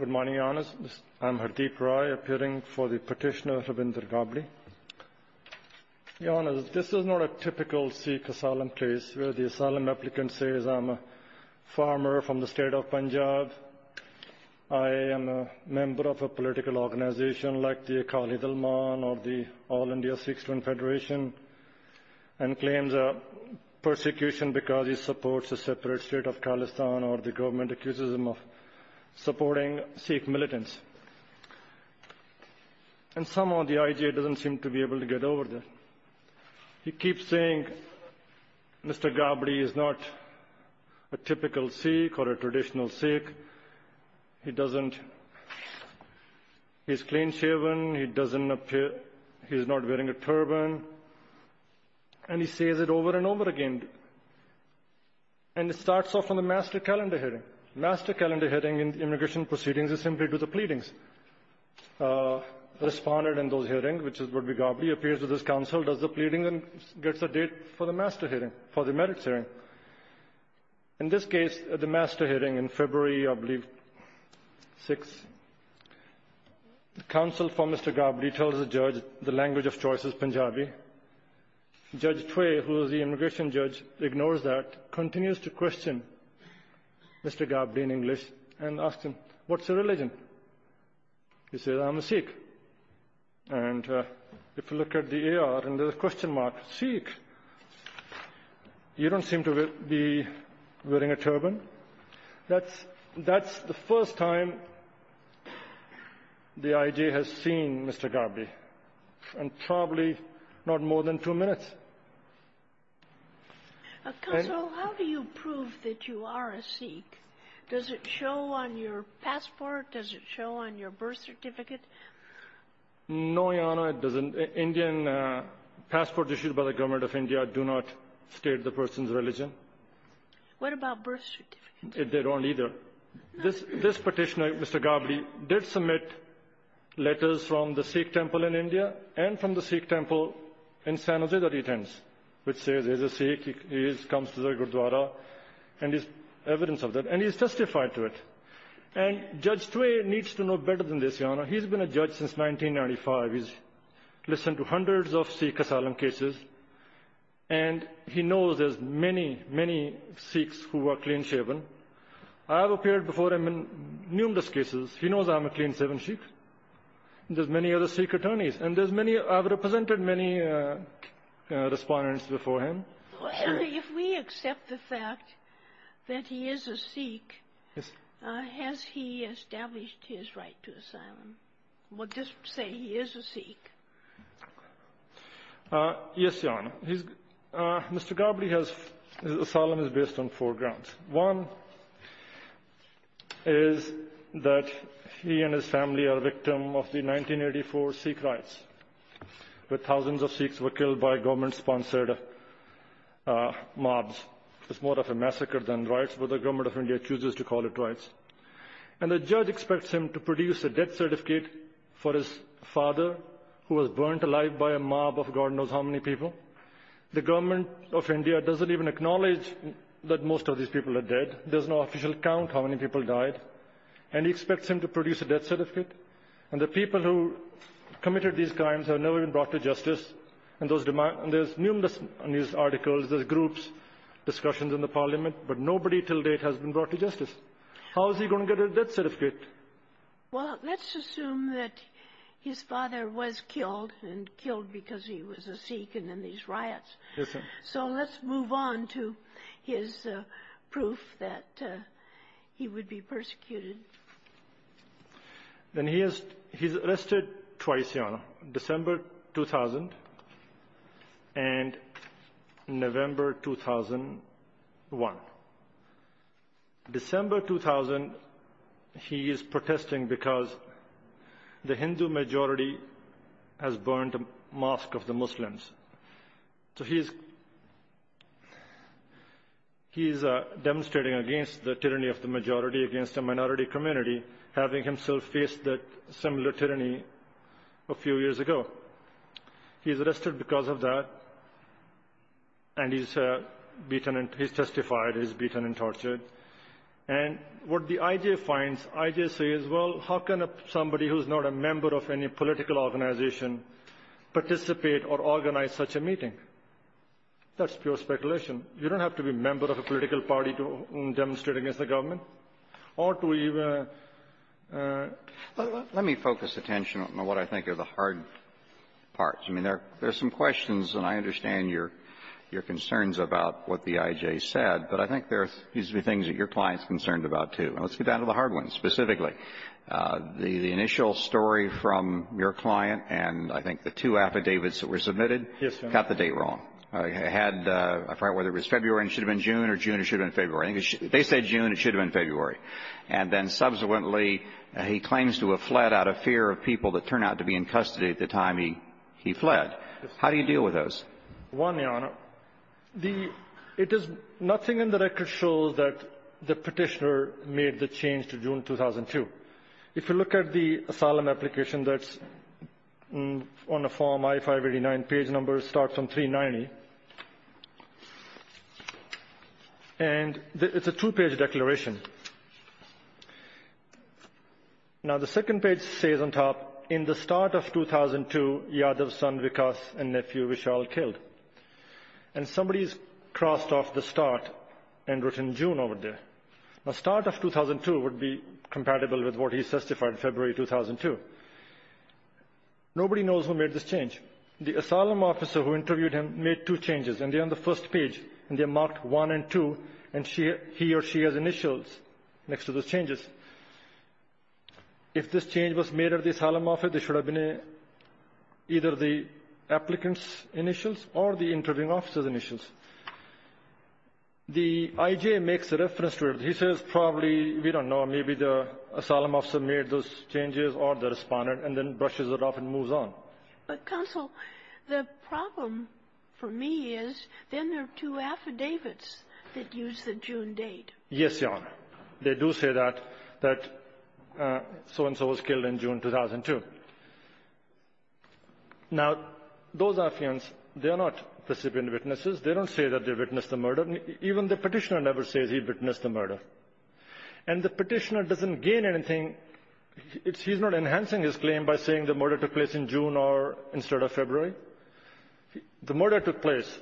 Good morning, Your Honours. I am Hardeep Rai, appearing for the petitioner Rabindranath Ghabli. Your Honours, this is not a typical Sikh asylum case, where the asylum applicant says, I am a farmer from the state of Punjab, I am a member of a political organisation like the Akali Dalman or the All India Sikh Student Federation, and claims a persecution because he supports a separate state of Khalistan or the government accuses him of supporting Sikh militants. And somehow the IJ doesn't seem to be able to get over that. He keeps saying Mr. Ghabli is not a typical Sikh or a traditional Sikh, he is clean shaven, he is not wearing a turban, and he says it over and over again. And it starts off on the master calendar hearing. Master calendar hearing in immigration proceedings is simply to do the pleadings. Respondent in those hearings, which is Rabindranath Ghabli, appears with his counsel, does the pleading and gets a date for the master hearing, for the merits hearing. In this case, the master hearing in February, I believe, 6, the counsel for Mr. Ghabli tells the judge the language of choice is Punjabi. Judge Tway, who is the immigration judge, ignores that, continues to question Mr. Ghabli in English and asks him, what's your religion? He says, I'm a Sikh. And if you look at the AR and there's a question mark, Sikh. You don't seem to be wearing a turban. That's the first time the IJ has seen Mr. Ghabli. And probably not more than two minutes. Kagan. How do you prove that you are a Sikh? Does it show on your passport? Does it show on your birth certificate? No, Your Honor. It doesn't. Indian passports issued by the government of India do not state the person's religion. What about birth certificates? They don't either. This petitioner, Mr. Ghabli, did submit letters from the Sikh temple in India and from the Sikh temple in San Jose that he attends, which says there's a Sikh, he comes to the Gurdwara, and there's evidence of that, and he's justified to it. And Judge Tway needs to know better than this, Your Honor. He's been a judge since 1995. He's listened to hundreds of Sikh asylum cases, and he knows there's many, many Sikhs who are clean-shaven. I have appeared before him in numerous cases. He knows I'm a clean-shaven Sikh. There's many other Sikh attorneys. And there's many other responses before him. If we accept the fact that he is a Sikh, has he established his right to asylum? We'll just say he is a Sikh. Yes, Your Honor. Mr. Ghabli has his asylum based on four grounds. One is that he and his family are victims of the 1984 Sikh riots, where thousands of Sikhs were killed by government-sponsored mobs. It's more of a massacre than riots, but the government of India chooses to call it riots. And the judge expects him to produce a death certificate for his father, who was burned alive by a mob of God knows how many people. The government of India doesn't even acknowledge that most of these people are dead. There's no official count how many people died. And he expects him to produce a death certificate. And the people who committed these crimes have never been brought to justice. And there's numerous news articles, there's groups, discussions in the parliament, but nobody till date has been brought to justice. How is he going to get a death certificate? Well, let's assume that his father was killed, and killed because he was a Sikh and in these riots. So let's move on to his proof that he would be persecuted. Then he is arrested twice, Your Honor, December 2000 and November 2001. December 2000, he is protesting because the Hindu majority has burned a mosque of the Muslims. So he is demonstrating against the tyranny of the majority against the minority community, having himself faced that similar tyranny a few years ago. He's arrested because of that, and he's beaten and he's testified he's beaten and tortured. And what the IJ finds, IJ says, well, how can somebody who's not a member of any political organization participate or organize such a meeting? That's pure speculation. You don't have to be a member of a political party to demonstrate against the government. Let me focus attention on what I think are the hard parts. I mean, there are some questions, and I understand your concerns about what the IJ said, but I think there are things that your client is concerned about, too. And let's get down to the hard ones specifically. The initial story from your client and I think the two affidavits that were submitted got the date wrong. It had, I forget whether it was February and it should have been June or June and it should have been February. They said June. It should have been February. And then subsequently he claims to have fled out of fear of people that turned out to be in custody at the time he fled. How do you deal with those? One, Your Honor, the – it is nothing in the record shows that the Petitioner made the change to June 2002. If you look at the asylum application that's on the form I-589, page number starts on 390, and it's a two-page declaration. Now, the second page says on top, In the start of 2002, Yadav's son Vikas and nephew Vishal killed. And somebody has crossed off the start and written June over there. The start of 2002 would be compatible with what he testified in February 2002. Nobody knows who made this change. The asylum officer who interviewed him made two changes, and they're on the first page, and they're marked 1 and 2, and he or she has initials next to those changes. If this change was made at the asylum office, it should have been either the applicant's initials or the interviewing officer's initials. The IJ makes a reference to it. He says probably, we don't know, maybe the asylum officer made those changes or the respondent, and then brushes it off and moves on. But, counsel, the problem for me is then there are two affidavits that use the June date. Yes, Your Honor. They do say that, that so-and-so was killed in June 2002. Now, those affidavits, they are not recipient witnesses. They don't say that they witnessed the murder. Even the Petitioner never says he witnessed the murder. And the Petitioner doesn't gain anything. He's not enhancing his claim by saying the murder took place in June or instead of February. The murder took place.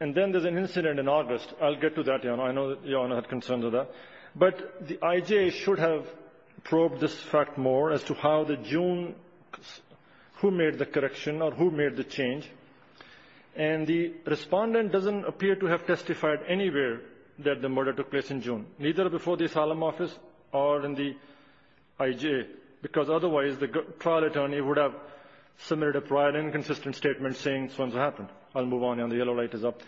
And then there's an incident in August. I'll get to that, Your Honor. I know that Your Honor had concerns with that. But the IJ should have probed this fact more as to how the June, who made the correction or who made the change. And the respondent doesn't appear to have testified anywhere that the murder took place in June, neither before the Asylum Office or in the IJ, because otherwise the trial attorney would have submitted a prior inconsistent statement saying this one's happened. I'll move on, Your Honor. The yellow light is up.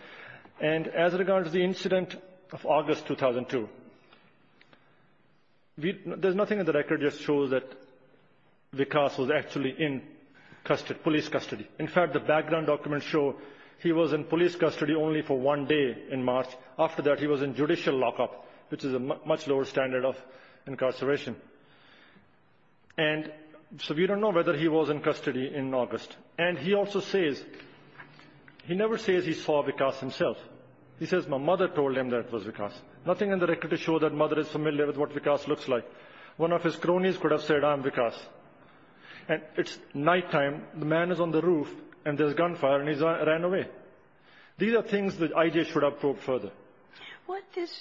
And as regards the incident of August 2002, there's nothing in the record that shows that Vikas was actually in police custody. In fact, the background documents show he was in police custody only for one day in March. After that, he was in judicial lockup, which is a much lower standard of incarceration. And so we don't know whether he was in custody in August. And he also says, he never says he saw Vikas himself. He says, my mother told him that it was Vikas. Nothing in the record to show that mother is familiar with what Vikas looks like. One of his cronies could have said, I'm Vikas. And it's nighttime, the man is on the roof, and there's gunfire, and he ran away. These are things the IJ should have probed further. What this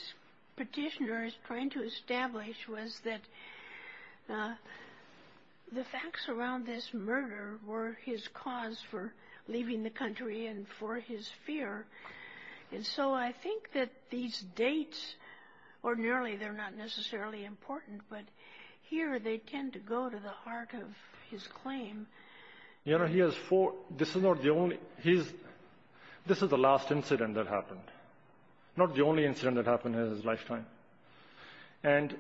petitioner is trying to establish was that the facts around this murder were his cause for leaving the country and for his fear. And so I think that these dates, ordinarily they're not necessarily important, but here they tend to go to the heart of his claim. This is the last incident that happened. Not the only incident that happened in his lifetime. And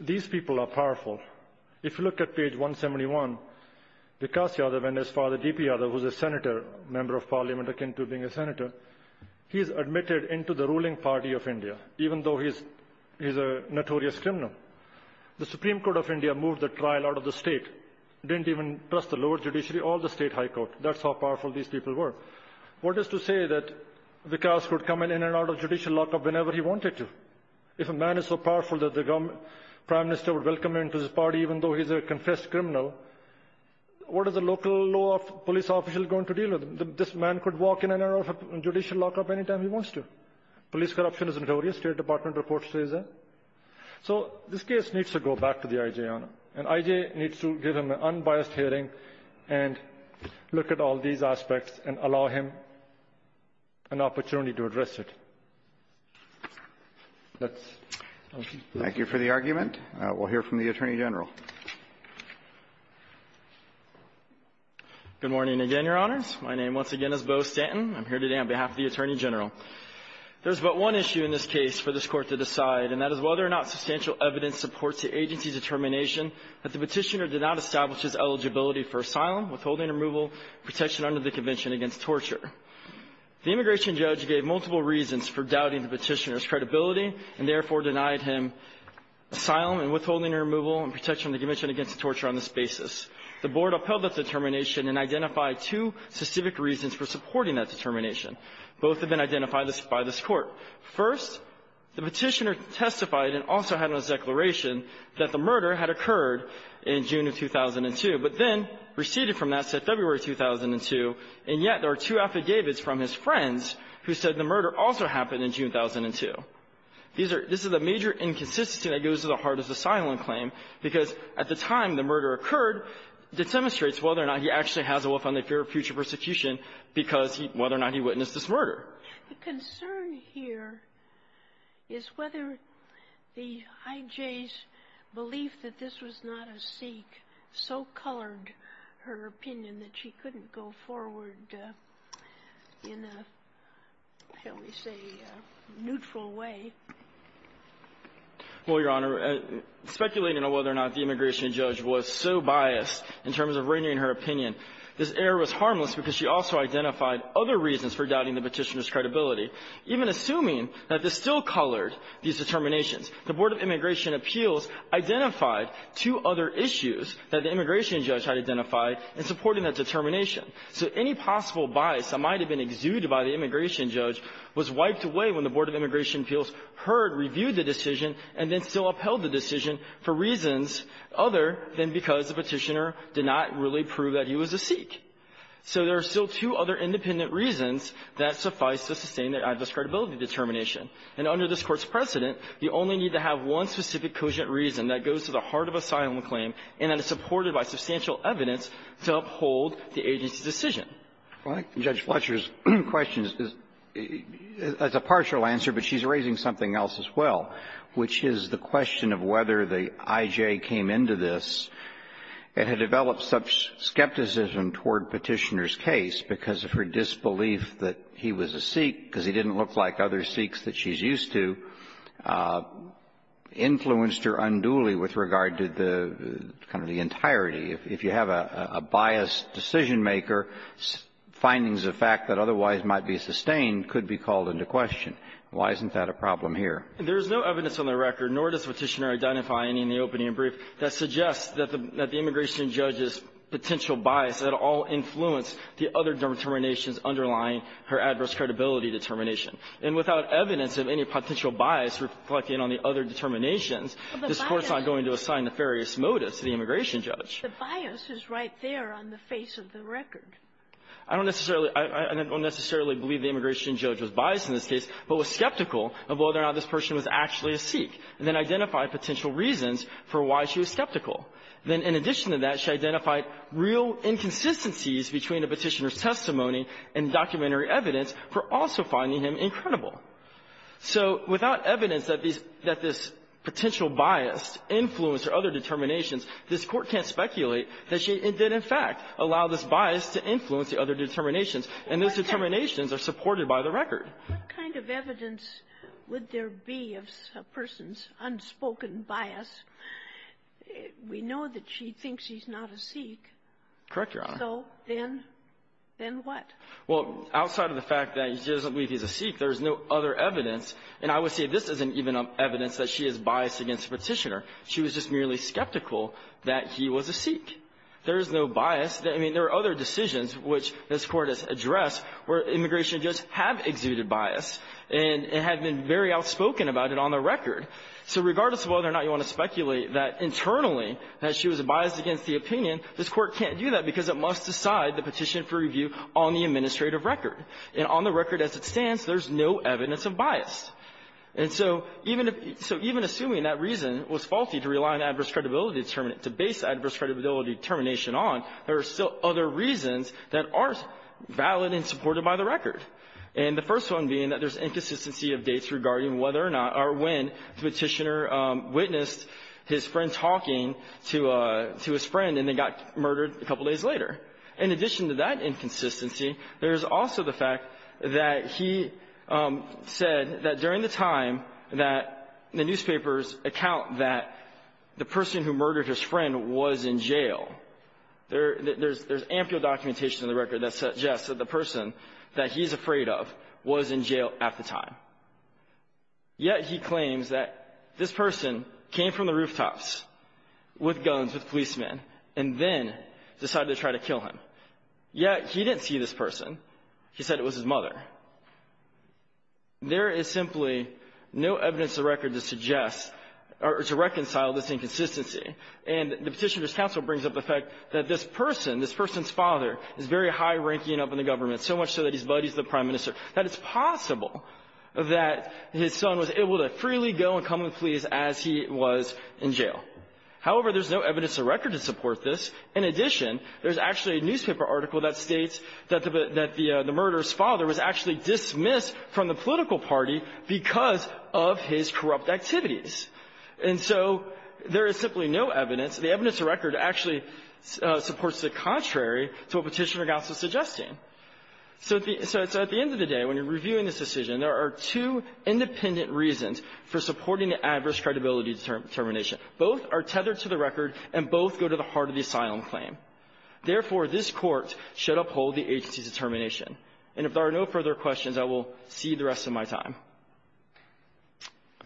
these people are powerful. If you look at page 171, Vikas Yadav and his father, D.P. Yadav, who's a senator, a member of parliament, akin to being a senator, he's admitted into the ruling party of India, even though he's a notorious criminal. The Supreme Court of India moved the trial out of the state. Didn't even trust the lower judiciary or the state high court. That's how powerful these people were. What is to say that Vikas could come in and out of judicial lockup whenever he wanted to? If a man is so powerful that the Prime Minister would welcome him into his party, even though he's a confessed criminal, what is a local law police official going to deal with? This man could walk in and out of judicial lockup any time he wants to. Police corruption is notorious, State Department reports say so. So this case needs to go back to the I.J., Your Honor. And I.J. needs to give him an unbiased hearing and look at all these aspects and allow him an opportunity to address it. That's all. Thank you for the argument. We'll hear from the Attorney General. Good morning again, Your Honors. My name once again is Bo Stanton. I'm here today on behalf of the Attorney General. There's but one issue in this case for this Court to decide, and that is whether or not substantial evidence supports the agency's determination that the Petitioner did not establish his eligibility for asylum, withholding removal, protection under the Convention against Torture. The immigration judge gave multiple reasons for doubting the Petitioner's credibility and therefore denied him asylum and withholding removal and protection under the Convention against Torture on this basis. The Board upheld that determination and identified two specific reasons for supporting that determination. Both have been identified by this Court. First, the Petitioner testified and also had on his declaration that the murder had occurred in June of 2002, but then receded from that, said February of 2002, and yet there are two affidavits from his friends who said the murder also happened in June of 2002. These are the major inconsistencies that goes to the heart of the asylum claim because at the time the murder occurred, it demonstrates whether or not he actually The concern here is whether the IJ's belief that this was not a Sikh so colored her opinion that she couldn't go forward in a, shall we say, neutral way. Well, Your Honor, speculating on whether or not the immigration judge was so biased in terms of reining her opinion, this error was harmless because she also identified other reasons for doubting the Petitioner's credibility, even assuming that this still colored these determinations. The Board of Immigration Appeals identified two other issues that the immigration judge had identified in supporting that determination. So any possible bias that might have been exuded by the immigration judge was wiped away when the Board of Immigration Appeals heard, reviewed the decision, and then still upheld the decision for reasons other than because the Petitioner did not really prove that he was a Sikh. So there are still two other independent reasons that suffice to sustain the adverse credibility determination. And under this Court's precedent, you only need to have one specific cogent reason that goes to the heart of asylum claim and that is supported by substantial evidence to uphold the agency's decision. Well, I think Judge Fletcher's question is a partial answer, but she's raising something else as well, which is the question of whether the I.J. came into this and had developed such skepticism toward Petitioner's case because of her disbelief that he was a Sikh, because he didn't look like other Sikhs that she's used to, influenced her unduly with regard to the kind of the entirety. If you have a biased decisionmaker, findings of fact that otherwise might be sustained could be called into question. Why isn't that a problem here? There is no evidence on the record, nor does Petitioner identify any in the opening and brief, that suggests that the immigration judge's potential bias at all influenced the other determinations underlying her adverse credibility determination. And without evidence of any potential bias reflecting on the other determinations, this Court's not going to assign nefarious motives to the immigration judge. The bias is right there on the face of the record. I don't necessarily – I don't necessarily believe the immigration judge was biased in this case, but was skeptical of whether or not this person was actually a Sikh, and then identified potential reasons for why she was skeptical. Then in addition to that, she identified real inconsistencies between the Petitioner's testimony and documentary evidence for also finding him incredible. So without evidence that these – that this potential bias influenced her other determinations, this Court can't speculate that she did, in fact, allow this bias to influence the other determinations, and those determinations are supported by the record. What kind of evidence would there be of a person's unspoken bias? We know that she thinks he's not a Sikh. Correct, Your Honor. So then what? Well, outside of the fact that she doesn't believe he's a Sikh, there's no other evidence, and I would say this isn't even evidence that she is biased against the Petitioner. She was just merely skeptical that he was a Sikh. There is no bias. I mean, there are other decisions which this Court has addressed where immigration judges have exuded bias and have been very outspoken about it on the record. So regardless of whether or not you want to speculate that internally that she was biased against the opinion, this Court can't do that because it must decide the petition for review on the administrative record. And on the record as it stands, there's no evidence of bias. And so even if – so even assuming that reason was faulty to rely on adverse credibility – to base adverse credibility determination on, there are still other reasons that are valid and supported by the record. And the first one being that there's inconsistency of dates regarding whether or not or when Petitioner witnessed his friend talking to his friend and then got murdered a couple days later. In addition to that inconsistency, there's also the fact that he said that during the time that the newspapers account that the person who murdered his friend was in jail at the time. Yet he claims that this person came from the rooftops with guns, with policemen, and then decided to try to kill him. Yet he didn't see this person. He said it was his mother. There is simply no evidence of record to suggest or to reconcile this inconsistency. And the Petitioner's counsel brings up the fact that this person, this person's father, is very high-ranking up in the government, so much so that he's buddies with the Prime Minister, that it's possible that his son was able to freely go and come with police as he was in jail. However, there's no evidence of record to support this. In addition, there's actually a newspaper article that states that the murderer's father was actually dismissed from the political party because of his corrupt activities. And so there is simply no evidence. The evidence of record actually supports the contrary to what Petitioner's counsel is suggesting. So at the end of the day, when you're reviewing this decision, there are two independent reasons for supporting the adverse credibility determination. Both are tethered to the record, and both go to the heart of the asylum claim. Therefore, this Court should uphold the agency's determination. And if there are no further questions, I will cede the rest of my time.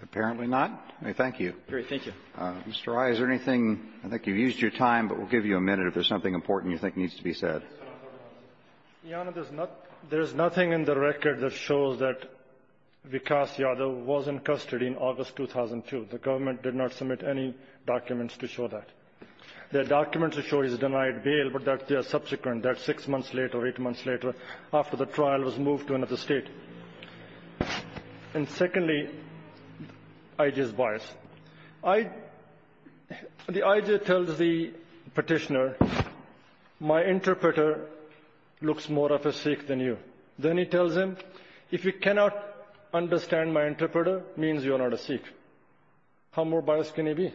Apparently not. Thank you. Great. Thank you. Mr. Rai, is there anything? I think you've used your time, but we'll give you a minute if there's something important you think needs to be said. Your Honor, there's nothing in the record that shows that Vikas Yadav was in custody in August 2002. The government did not submit any documents to show that. The documents show he's denied bail, but that they are subsequent, that six months later, eight months later, after the trial, was moved to another State. And secondly, I.J.'s bias. The I.J. tells the Petitioner, my interpreter looks more of a Sikh than you. Then he tells him, if you cannot understand my interpreter, means you are not a Sikh. How more biased can he be?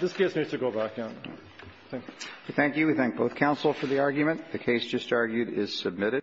This case needs to go back, Your Honor. Thank you. Thank you. We thank both counsel for the argument. The case just argued is submitted.